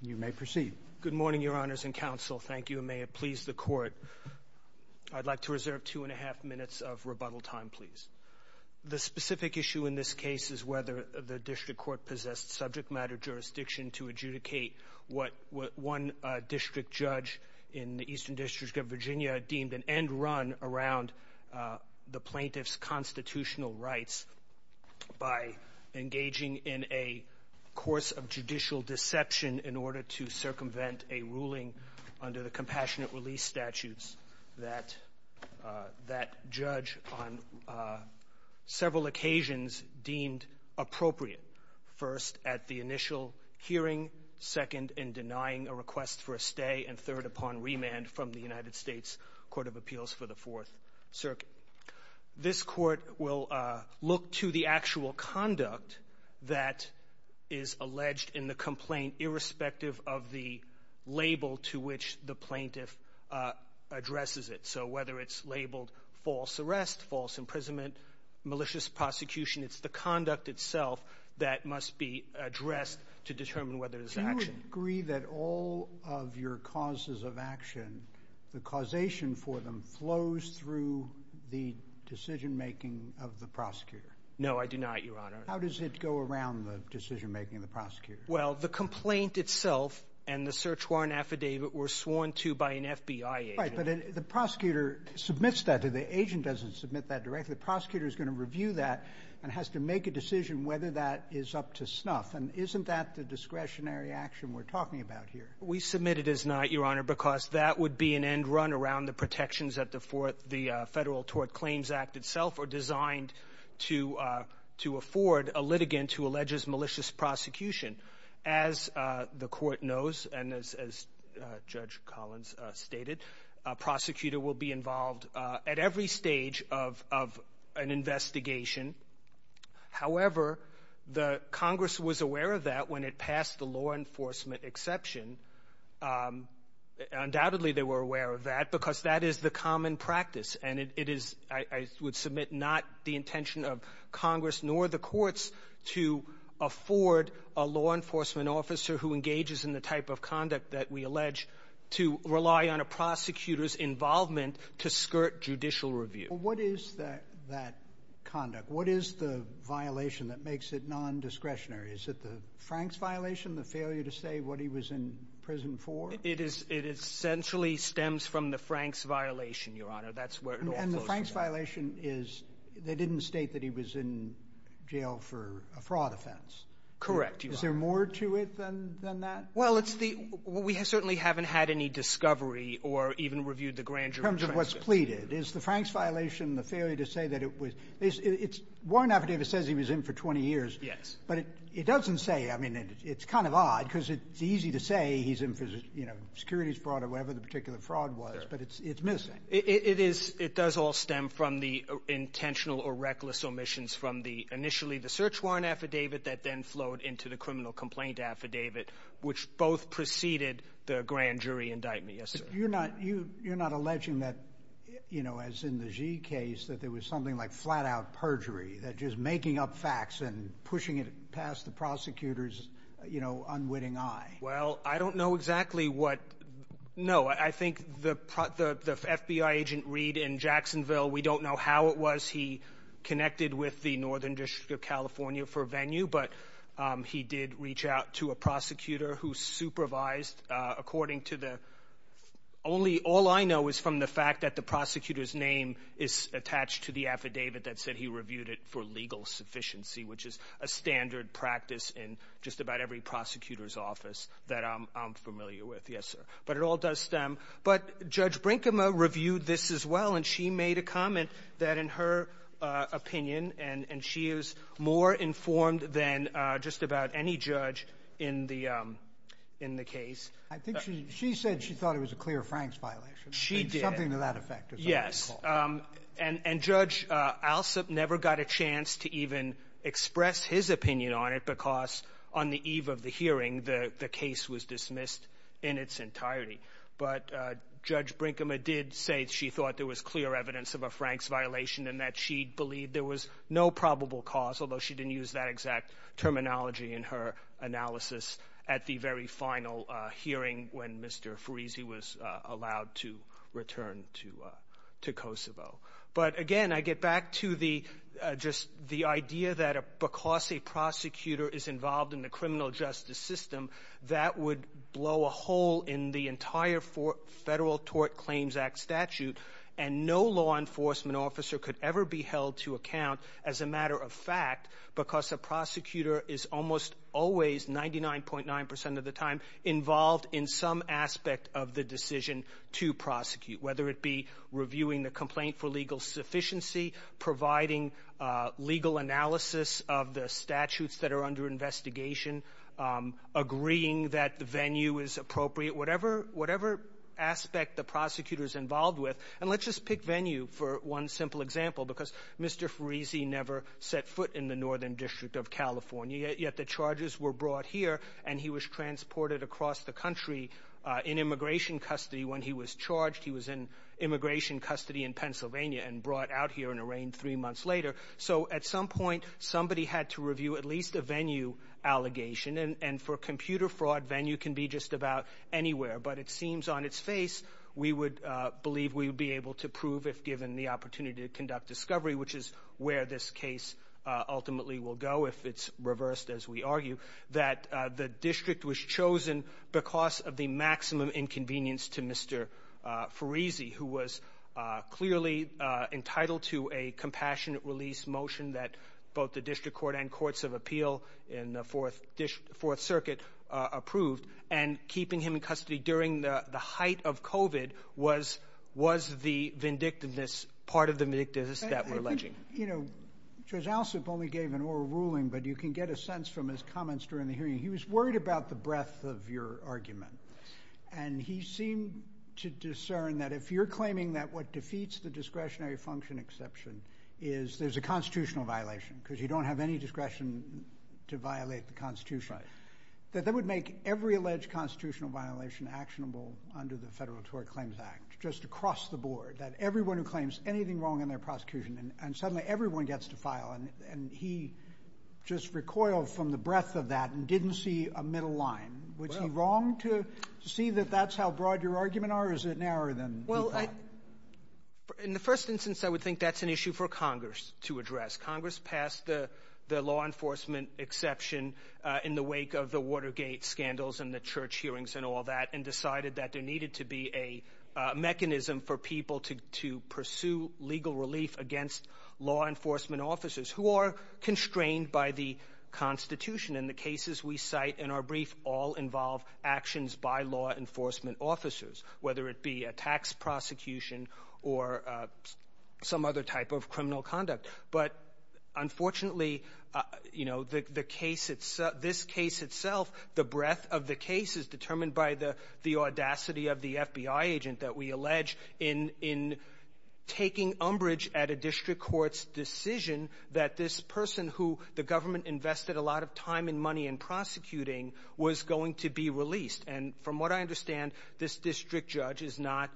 You may proceed. Good morning, Your Honors and Counsel. Thank you, and may it please the Court. I'd like to reserve two and a half minutes of rebuttal time, please. The specific issue in this case is whether the district court possessed subject matter jurisdiction to adjudicate what one district judge in the Eastern District of Virginia deemed an end run around the plaintiff's constitutional rights by engaging in a course of judicial deception in order to circumvent a ruling under the compassionate release statutes that that judge on several occasions deemed appropriate, first at the initial hearing, second in denying a request for a stay, and third upon remand from the United States Court of Appeals for the Fourth Circuit. This Court will look to the actual conduct that is alleged in the complaint, irrespective of the label to which the plaintiff addresses it. So whether it's labeled false arrest, false imprisonment, malicious prosecution, it's the conduct itself that must be addressed to determine whether there's action. Do you agree that all of your causes of action, the causation for them, flows through the decision making of the prosecutor? No, I do not, Your Honor. How does it go around the decision making of the prosecutor? Well, the complaint itself and the search warrant affidavit were sworn to by an FBI agent. Right. But the prosecutor submits that to the agent, doesn't submit that directly. The prosecutor is going to review that and has to make a decision whether that is up to snuff. And isn't that the discretionary action we're talking about here? We submit it as not, Your Honor, because that would be an end run around protections that the Federal Tort Claims Act itself are designed to afford a litigant who alleges malicious prosecution. As the Court knows and as Judge Collins stated, a prosecutor will be involved at every stage of an investigation. However, the Congress was aware of that when it passed the law enforcement exception. Undoubtedly, they were aware of that because that is the common practice. And it is, I would submit, not the intention of Congress nor the courts to afford a law enforcement officer who engages in the type of conduct that we allege to rely on a prosecutor's involvement to skirt judicial review. What is that conduct? What is the violation that makes it non-discretionary? Is it the Franks violation, the failure to say what he was in prison for? It is. It essentially stems from the Franks violation, Your Honor. That's where it all comes from. And the Franks violation is they didn't state that he was in jail for a fraud offense. Correct, Your Honor. Is there more to it than that? Well, it's the we certainly haven't had any discovery or even reviewed the grand jury. In terms of what's pleaded, is the Franks violation the failure to say that it was it's one affidavit says he was in for 20 years? Yes. But it doesn't say. I mean, it's kind of odd because it's easy to say he's in for, you know, securities fraud or whatever the particular fraud was. But it's missing. It is. It does all stem from the intentional or reckless omissions from the initially the search warrant affidavit that then flowed into the criminal complaint affidavit, which both preceded the grand jury indictment. Yes, sir. You're not alleging that, you know, as in the Gee case, that there was something like flat out perjury that just making up facts and pushing it past the prosecutor's, you know, unwitting eye? Well, I don't know exactly what. No, I think the the FBI agent read in Jacksonville. We don't know how it was. He connected with the Northern District of California for venue, but he did reach out to a prosecutor who supervised according to the only all I know is from the fact that the prosecutor's name is attached to the affidavit that said he reviewed it for legal sufficiency, which is a standard practice in just about every prosecutor's office that I'm familiar with. Yes, sir. But it all does stem. But Judge Brinkema reviewed this as well, and she made a comment that in her opinion, and she is more informed than just about any judge in the case. I think she said she thought it was a clear Franks violation. She did. Something to that effect, is what I recall. And Judge Alsup never got a chance to even express his opinion on it because on the eve of the hearing, the case was dismissed in its entirety. But Judge Brinkema did say she thought there was clear evidence of a Franks violation and that she believed there was no probable cause, although she didn't use that exact terminology in her analysis at the very final hearing when Mr. Friese was allowed to return to Kosovo. But again, I get back to the just the idea that because a prosecutor is involved in the criminal justice system, that would blow a hole in the entire Federal Tort Claims Act statute. And no law enforcement officer could ever be held to account as a matter of fact because a prosecutor is almost always, 99.9 percent of the time, involved in some aspect of the decision to prosecute, whether it be reviewing the complaint for legal sufficiency, providing legal analysis of the statutes that are under investigation, agreeing that the venue is appropriate, whatever aspect the prosecutor is involved with. And let's just pick venue for one simple example because Mr. Friese never set foot in the Northern District of California, yet the charges were brought here and he was transported across the country in immigration custody when he was charged. He was in immigration custody in Pennsylvania and brought out here and arraigned three months later. So at some point, somebody had to review at least a venue allegation. And for computer fraud, venue can be just about anywhere. But it seems on its face, we would believe we would be able to prove, if given the opportunity to conduct discovery, which is where this case ultimately will go if it's reversed, as we argue, that the district was chosen because of the maximum inconvenience to Mr. Friese, who was clearly entitled to a compassionate release motion that both the District Court and Courts of Appeal in the Fourth Circuit approved. And was the vindictiveness part of the vindictiveness that we're alleging? I think, you know, Judge Alsup only gave an oral ruling, but you can get a sense from his comments during the hearing. He was worried about the breadth of your argument. And he seemed to discern that if you're claiming that what defeats the discretionary function exception is there's a constitutional violation because you don't have any discretion to violate the Constitution, that that would make every alleged constitutional violation actionable under the Federal Tort Claims Act, just across the board, that everyone who claims anything wrong in their prosecution, and suddenly everyone gets to file. And he just recoiled from the breadth of that and didn't see a middle line. Was he wrong to see that that's how broad your argument are, or is it narrower than you thought? In the first instance, I would think that's an issue for Congress to address. Congress passed the law enforcement exception in the wake of the Watergate scandals and the church that there needed to be a mechanism for people to pursue legal relief against law enforcement officers who are constrained by the Constitution. And the cases we cite in our brief all involve actions by law enforcement officers, whether it be a tax prosecution or some other type of criminal conduct. But unfortunately, you know, the case itself, this case itself, the breadth of the case is determined by the audacity of the FBI agent that we allege in taking umbrage at a district court's decision that this person who the government invested a lot of time and money in prosecuting was going to be released. And from what I understand, this district judge is not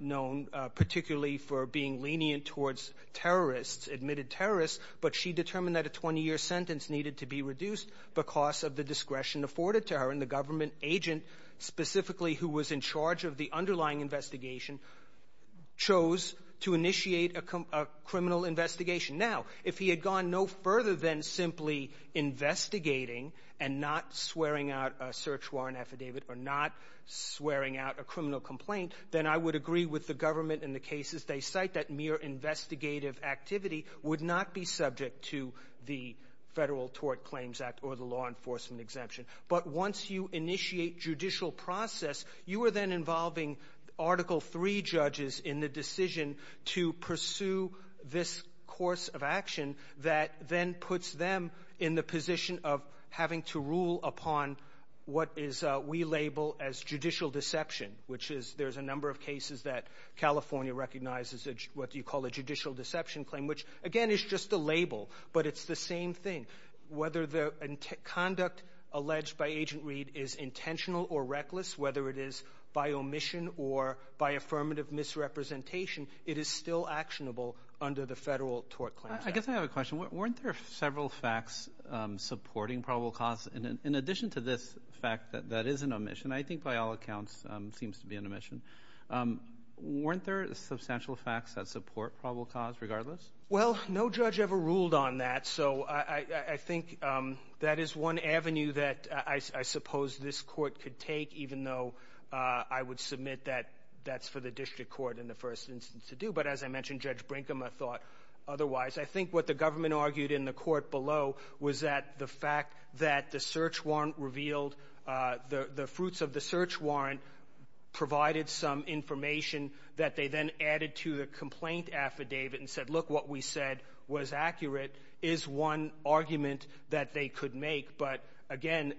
known particularly for being lenient towards terrorists, admitted terrorists, but she determined that a 20-year sentence needed to be reduced because of the discretion afforded to her. And the government agent specifically who was in charge of the underlying investigation chose to initiate a criminal investigation. Now, if he had gone no further than simply investigating and not swearing out a search warrant affidavit or not swearing out a criminal complaint, then I would agree with the government in the cases they would not be subject to the Federal Tort Claims Act or the law enforcement exemption. But once you initiate judicial process, you are then involving Article III judges in the decision to pursue this course of action that then puts them in the position of having to rule upon what we label as judicial deception, which is there's a number of cases that California recognizes what you call a judicial deception claim, which again is just a label, but it's the same thing. Whether the conduct alleged by Agent Reed is intentional or reckless, whether it is by omission or by affirmative misrepresentation, it is still actionable under the Federal Tort Claims Act. I guess I have a question. Weren't there several facts supporting probable cause? In addition to this fact that that is an omission, I think by all accounts seems to be an omission. Weren't there substantial facts that support probable cause regardless? Well, no judge ever ruled on that. So I think that is one avenue that I suppose this court could take, even though I would submit that that's for the district court in the first instance to do. But as I mentioned, Judge Brinkham, I thought otherwise. I think what the government argued in the court below was that the fact that the search warrant revealed the fruits of the search warrant provided some information that they then added to the complaint affidavit and said, look, what we said was accurate, is one argument that they could make. But again,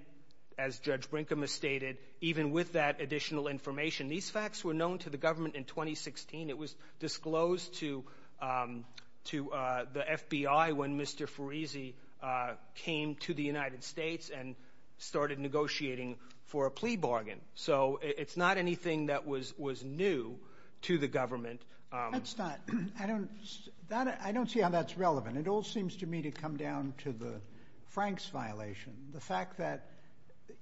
as Judge Brinkham has stated, even with that additional information, these facts were known to the government in 2016. It was disclosed to the FBI when Mr. Fereese came to the United States and started negotiating for a plea bargain. So it's not anything that was new to the government. That's not. I don't see how that's relevant. It all seems to me to come down to the Franks violation. The fact that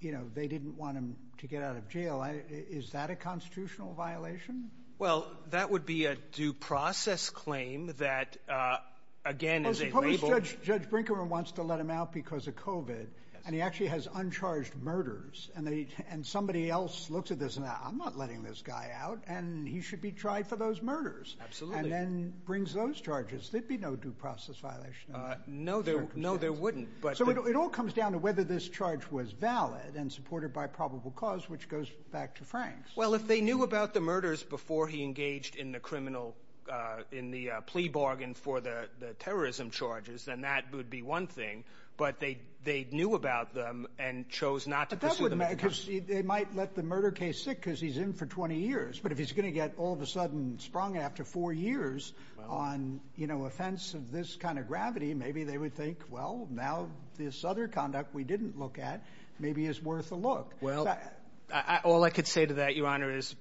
they didn't want him to get out of jail, is that a constitutional violation? Well, that would be a due process claim that, again, is a label. Well, suppose Judge Brinkham wants to let him out because of COVID, and he actually has uncharged murders, and somebody else looks at this and says, I'm not letting this guy out, and he should be tried for those murders. Absolutely. And then brings those charges. There'd be no due process violation in that circumstance. No, there wouldn't. So it all comes down to whether this charge was valid and supported by probable cause, which goes back to Franks. Well, if they knew about the murders before he engaged in the criminal, in the plea bargain for the terrorism charges, then that would be one thing. But they knew about them and chose not to pursue them. But that wouldn't matter because they might let the murder case sit because he's in for 20 years. But if he's going to get all of a sudden sprung after four years on, you know, offense of this kind of gravity, maybe they would think, well, now this other conduct we didn't look at maybe is worth a look. Well, all I could say to that, Your Honor, is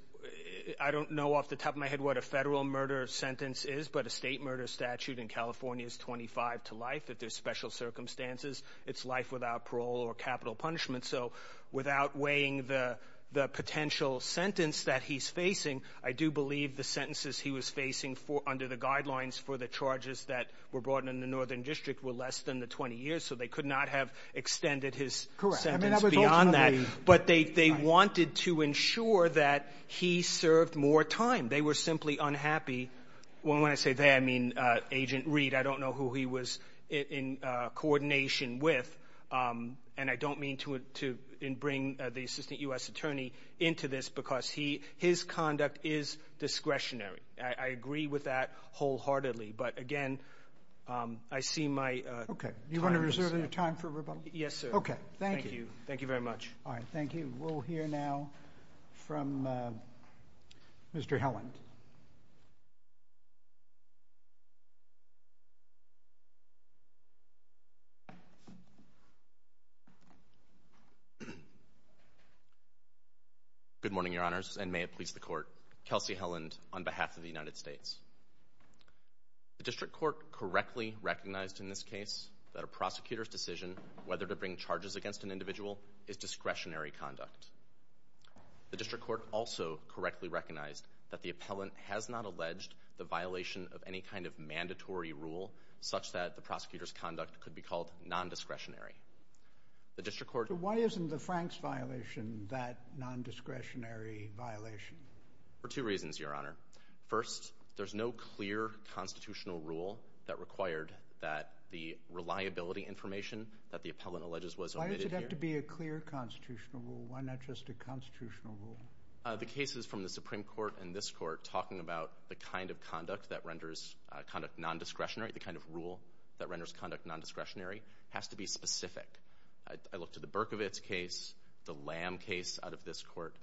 I don't know off the top of my head what a federal murder sentence is, but a state murder statute in California is 25 to life. If there's special circumstances, it's life without parole or capital punishment. So without weighing the the potential sentence that he's facing, I do believe the sentences he was facing under the guidelines for the charges that were brought in in the Northern District were less than the 20 years. So they could not have extended his sentence beyond that. But they wanted to ensure that he served more time. They were simply unhappy. Well, when I say they, I mean, Agent Reed. I don't know who he was in coordination with. And I don't mean to bring the assistant U.S. attorney into this because he his conduct is discretionary. I agree with that wholeheartedly. But again, I see my. OK. You want to reserve your time for rebuttal? Yes, sir. OK. Thank you. Thank you very much. All right. Thank you. We'll hear now from Mr. Helland. Good morning, Your Honors, and may it please the court. Kelsey Helland on behalf of the United States. The district court correctly recognized in this case that a prosecutor's decision whether to bring charges against an individual is discretionary conduct. The district court also correctly recognized that the appellant has not alleged the violation of any kind of mandatory rule such that the prosecutor's conduct could be called nondiscretionary. The district court. Why isn't the Franks violation that nondiscretionary violation? For two reasons, Your Honor. First, there's no clear constitutional rule that required that the reliability information that the appellant alleges was. Why does it have to be a clear constitutional rule? Why not just a constitutional rule? The cases from the Supreme Court and this court talking about the kind of conduct that renders conduct nondiscretionary, the kind of rule that renders conduct nondiscretionary has to be specific. I looked at the Berkovitz case, the Lam case out of this court.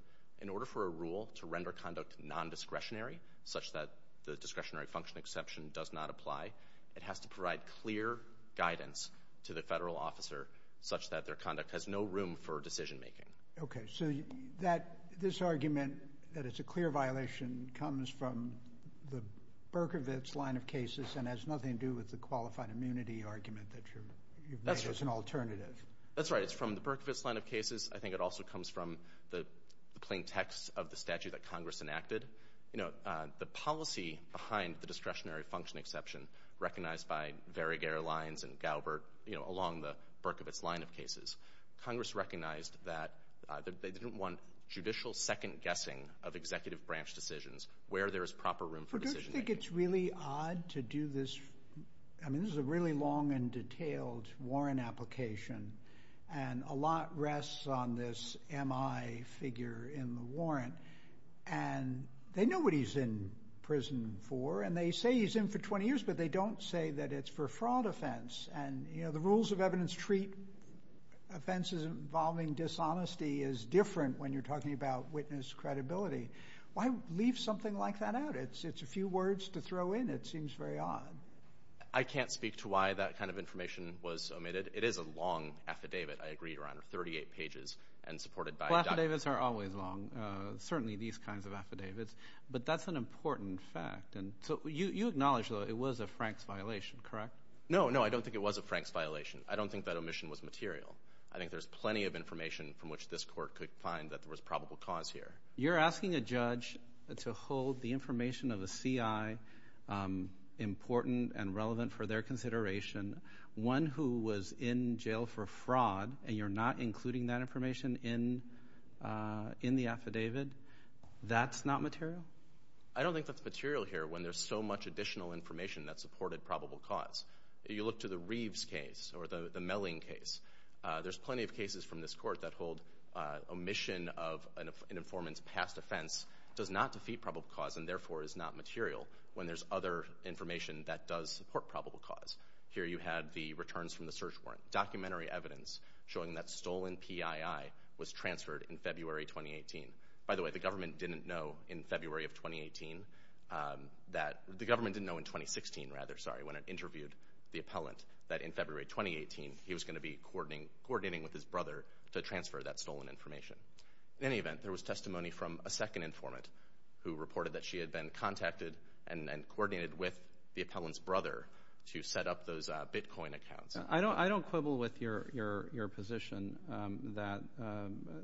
In order for a rule to render conduct nondiscretionary such that the discretionary function exception does not apply, it has to provide clear guidance to the federal officer such that their conduct has no room for decision making. OK, so that this argument that it's a clear violation comes from the Berkovitz line of cases and has nothing to do with the qualified immunity argument that you've made as an alternative. That's right. It's from the Berkovitz line of cases. I think it also comes from the plain text of the statute that Congress enacted. You know, the policy behind the discretionary function exception recognized by Varig Airlines and Gaubert, you know, along the Berkovitz line of cases. Congress recognized that they didn't want judicial second guessing of executive branch decisions where there is proper room for decision. I think it's really odd to do this. I mean, this is a really long and detailed warrant application. And a lot rests on this M.I. figure in the warrant. And they know what he's in prison for. And they say he's in for 20 years, but they don't say that it's for fraud offense. And, you know, the rules of evidence treat offenses involving dishonesty is different when you're talking about witness credibility. Why leave something like that out? It's it's a few words to throw in. It seems very odd. I can't speak to why that kind of information was omitted. It is a long affidavit. I agree, Your Honor, 38 pages and supported by. Affidavits are always long. Certainly these kinds of affidavits. But that's an important fact. And so you acknowledge, though, it was a Frank's violation, correct? No, no, I don't think it was a Frank's violation. I don't think that omission was material. I think there's plenty of information from which this court could find that there was probable cause here. You're asking a judge to hold the information of a C.I. important and relevant for their consideration. One who was in jail for fraud. And you're not including that information in in the affidavit. That's not material. I don't think that's material here when there's so much additional information that supported probable cause. You look to the Reeves case or the Melling case. There's plenty of cases from this court that hold omission of an informant's past offense does not defeat probable cause and therefore is not material when there's other information that does support probable cause. Here you had the returns from the search warrant, documentary evidence showing that stolen PII was transferred in February 2018. By the way, the government didn't know in February of 2018 that the government didn't know in 2016, rather, sorry, when it interviewed the appellant that in February 2018, he was going to be coordinating coordinating with his brother to transfer that stolen information. In any event, there was testimony from a second informant who reported that she had been contacted and coordinated with the appellant's brother to set up those Bitcoin accounts. I don't I don't quibble with your your your position that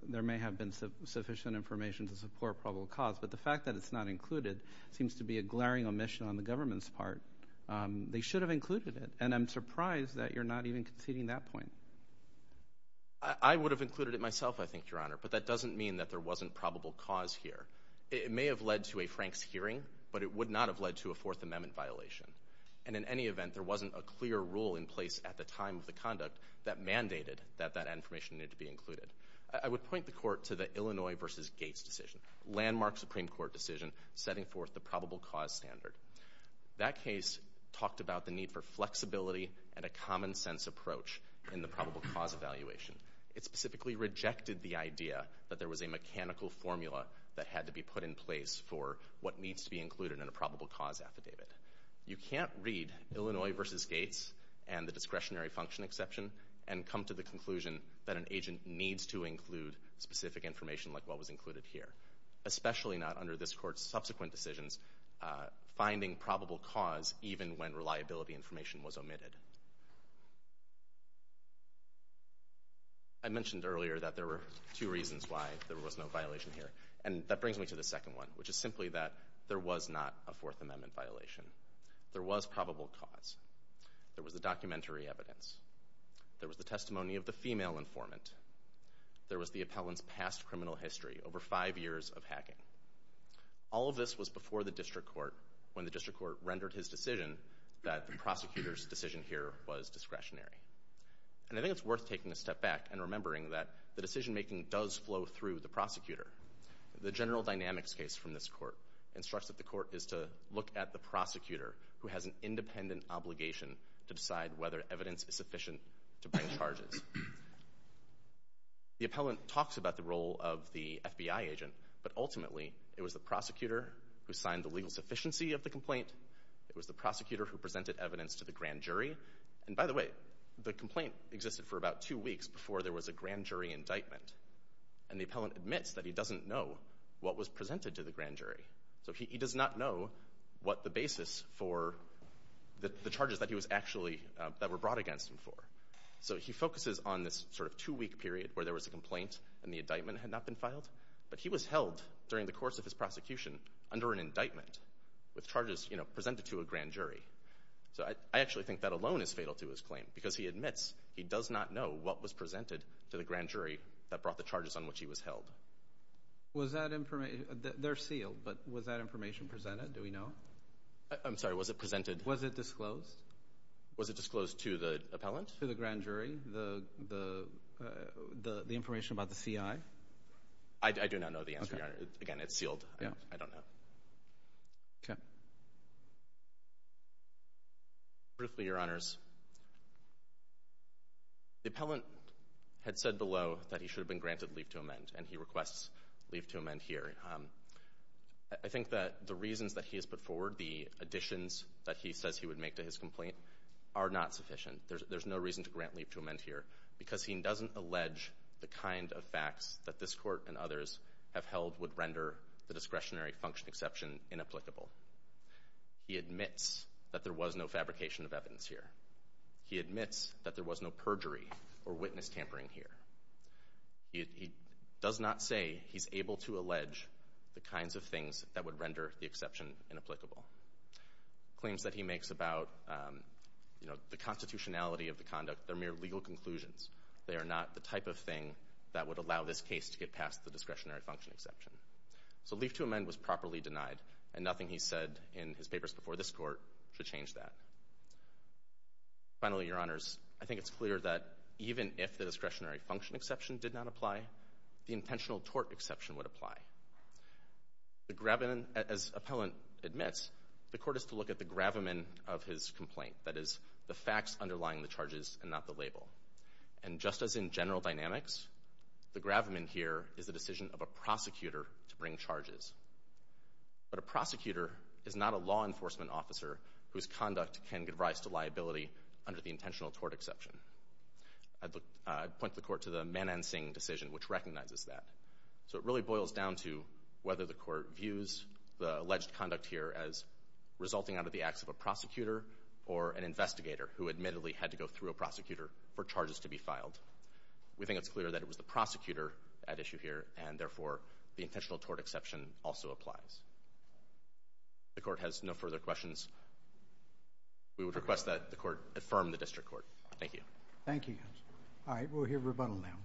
there may have been sufficient information to support probable cause, but the fact that it's not included seems to be a glaring omission on the government's part. They should have included it. And I'm surprised that you're not even conceding that point. I would have included it myself, I think, Your Honor, but that doesn't mean that there wasn't probable cause here. It may have led to a Frank's hearing, but it would not have led to a Fourth Amendment violation. And in any event, there wasn't a clear rule in place at the time of the conduct that mandated that that information needed to be included. I would point the court to the Illinois versus Gates decision, landmark Supreme Court decision setting forth the probable cause standard. That case talked about the need for flexibility and a common sense approach in the probable cause evaluation. It specifically rejected the idea that there was a mechanical formula that had to be put in place for what needs to be included in a probable cause affidavit. You can't read Illinois versus Gates and the discretionary function exception and come to the conclusion that an agent needs to include specific information like what was included here, especially not under this court's subsequent decisions, finding probable cause even when reliability information was omitted. I mentioned earlier that there were two reasons why there was no violation here, and that brings me to the second one, which is simply that there was not a Fourth Amendment violation. There was probable cause. There was the documentary evidence. There was the testimony of the female informant. There was the appellant's past criminal history over five years of hacking. All of this was before the district court, when the district court rendered his decision that the prosecutor's decision here was discretionary. And I think it's worth taking a step back and remembering that the decision making does flow through the prosecutor. The general dynamics case from this court instructs that the court is to look at the prosecutor who has an independent obligation to decide whether evidence is sufficient to bring charges. The appellant talks about the role of the FBI agent, but ultimately it was the prosecutor who signed the legal sufficiency of the complaint. It was the prosecutor who presented evidence to the grand jury. And by the way, the complaint existed for about two weeks before there was a grand jury indictment. And the appellant admits that he doesn't know what was presented to the grand jury. So he does not know what the basis for the charges that he was actually, that were brought against him for. So he focuses on this sort of two-week period where there was a complaint and the indictment had not been filed. But he was held during the course of his prosecution under an indictment with charges, you know, presented to a grand jury. So I actually think that alone is fatal to his claim because he admits he does not know what was presented to the grand jury that brought the charges on which he was held. Was that information, they're sealed, but was that information presented? Do we know? I'm sorry, was it presented? Was it disclosed? Was it disclosed to the appellant? To the grand jury, the information about the CI? I do not know the answer, Your Honor. Again, it's sealed. Yeah. I don't know. Okay. Truthfully, Your Honors, the appellant had said below that he should have been granted leave to amend and he requests leave to amend here. I think that the reasons that he has put forward, the additions that he says he would make to his complaint are not sufficient. There's no reason to grant leave to amend here because he doesn't allege the kind of facts that this court and others have held would render the discretionary function exception inapplicable. He admits that there was no fabrication of evidence here. He admits that there was no perjury or witness tampering here. He does not say he's able to allege the kinds of things that would render the exception inapplicable. Claims that he makes about, you know, the constitutionality of the conduct, they're mere legal conclusions. They are not the type of thing that would allow this case to get past the discretionary function exception. So leave to amend was properly denied and nothing he said in his papers before this court should change that. Finally, Your Honors, I think it's clear that even if the discretionary function exception did not apply, the intentional tort exception would apply. The gravamen, as appellant admits, the court is to look at the gravamen of his complaint. That is, the facts underlying the charges and not the label. And just as in general dynamics, the gravamen here is the decision of a prosecutor to bring charges. But a prosecutor is not a law enforcement officer whose conduct can give rise to liability under the intentional tort exception. I'd point the court to the Manan Singh decision, which recognizes that. So it really boils down to whether the court views the alleged conduct here as resulting out of the acts of a prosecutor or an investigator who admittedly had to go through a prosecutor for charges to be filed. We think it's clear that it was the prosecutor at issue here and therefore the intentional tort exception also applies. If the court has no further questions, we would request that the court affirm the district court. Thank you. Thank you. All right. We'll hear rebuttal now.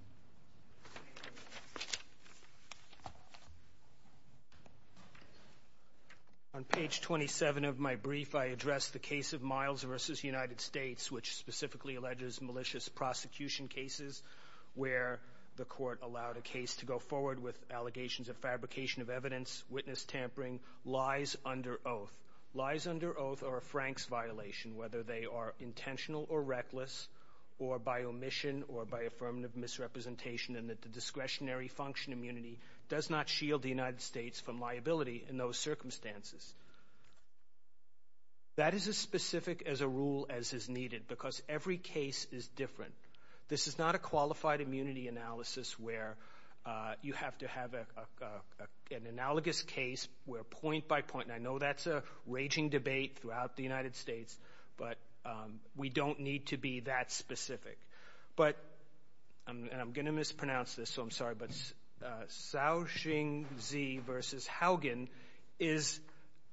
On page 27 of my brief, I address the case of Miles versus United States, which specifically alleges malicious prosecution cases where the court allowed a case to go forward with allegations of fabrication of evidence, witness tampering, lies under oath. Lies under oath are a Frank's violation, whether they are intentional or reckless, or by omission or by affirmative misrepresentation and that the discretionary function immunity does not shield the United States from liability in those circumstances. That is as specific as a rule as is needed because every case is different. This is not a qualified immunity analysis where you have to have an analogous case where point by point, and I know that's a raging debate throughout the United States, but we don't need to be that specific. But, and I'm going to mispronounce this, so I'm sorry, but Saoxingzi versus Haugen is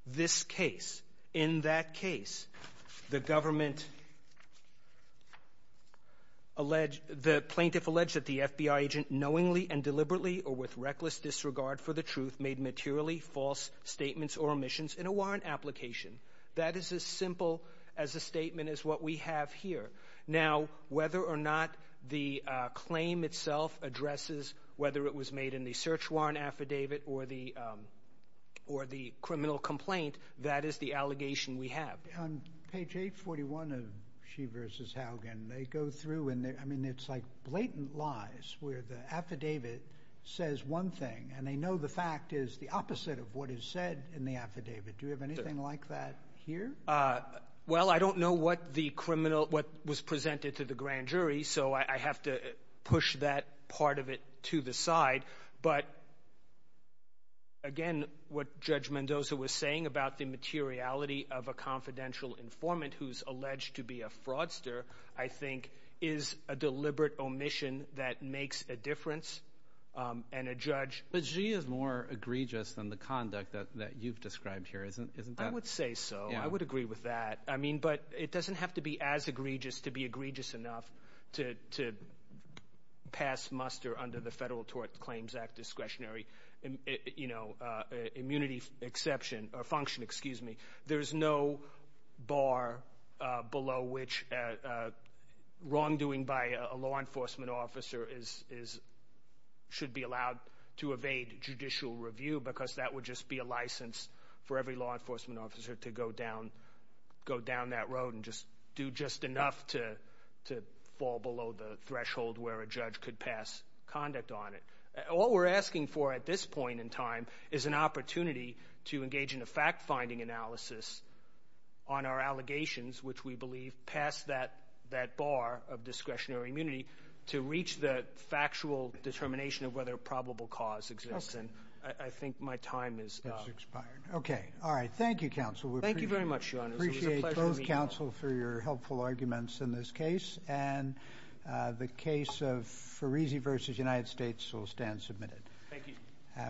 this case. In that case, the government alleged, the plaintiff alleged that the FBI agent knowingly and deliberately or with reckless disregard for the truth made materially false statements or omissions in a warrant application. That is as simple as a statement as what we have here. Now, whether or not the claim itself addresses whether it was made in the search warrant affidavit or the criminal complaint, that is the allegation we have. On page 841 of Xi versus Haugen, they go through and I mean, it's like blatant lies where the affidavit says one thing and they know the fact is the opposite of what is said in the affidavit. Do you have anything like that here? Well, I don't know what the criminal, what was presented to the grand jury, so I have to push that part of it to the side. But, again, what Judge Mendoza was saying about the materiality of a confidential informant who's alleged to be a fraudster I think is a deliberate omission that makes a difference and a judge. But Xi is more egregious than the conduct that you've described here, isn't that? I would say so. I would agree with that. I mean, but it doesn't have to be as egregious to be egregious enough to pass muster under the Federal Tort Claims Act discretionary, you know, immunity exception or function, excuse me. There's no bar below which wrongdoing by a law enforcement officer is, should be allowed to evade judicial review because that would just be a license for every law enforcement officer to go down that road and just do just enough to fall below the threshold where a judge could pass conduct on it. What we're asking for at this point in time is an opportunity to engage in a fact-finding analysis on our allegations, which we believe pass that bar of discretionary immunity to reach the factual determination of whether a probable cause exists. And I think my time is up. Okay. All right. Thank you, counsel. Thank you very much, your honor. It was a pleasure to meet you. We appreciate both counsel for your helpful arguments in this case. And the case of Farizi versus United States will stand submitted. Thank you. Have a good day.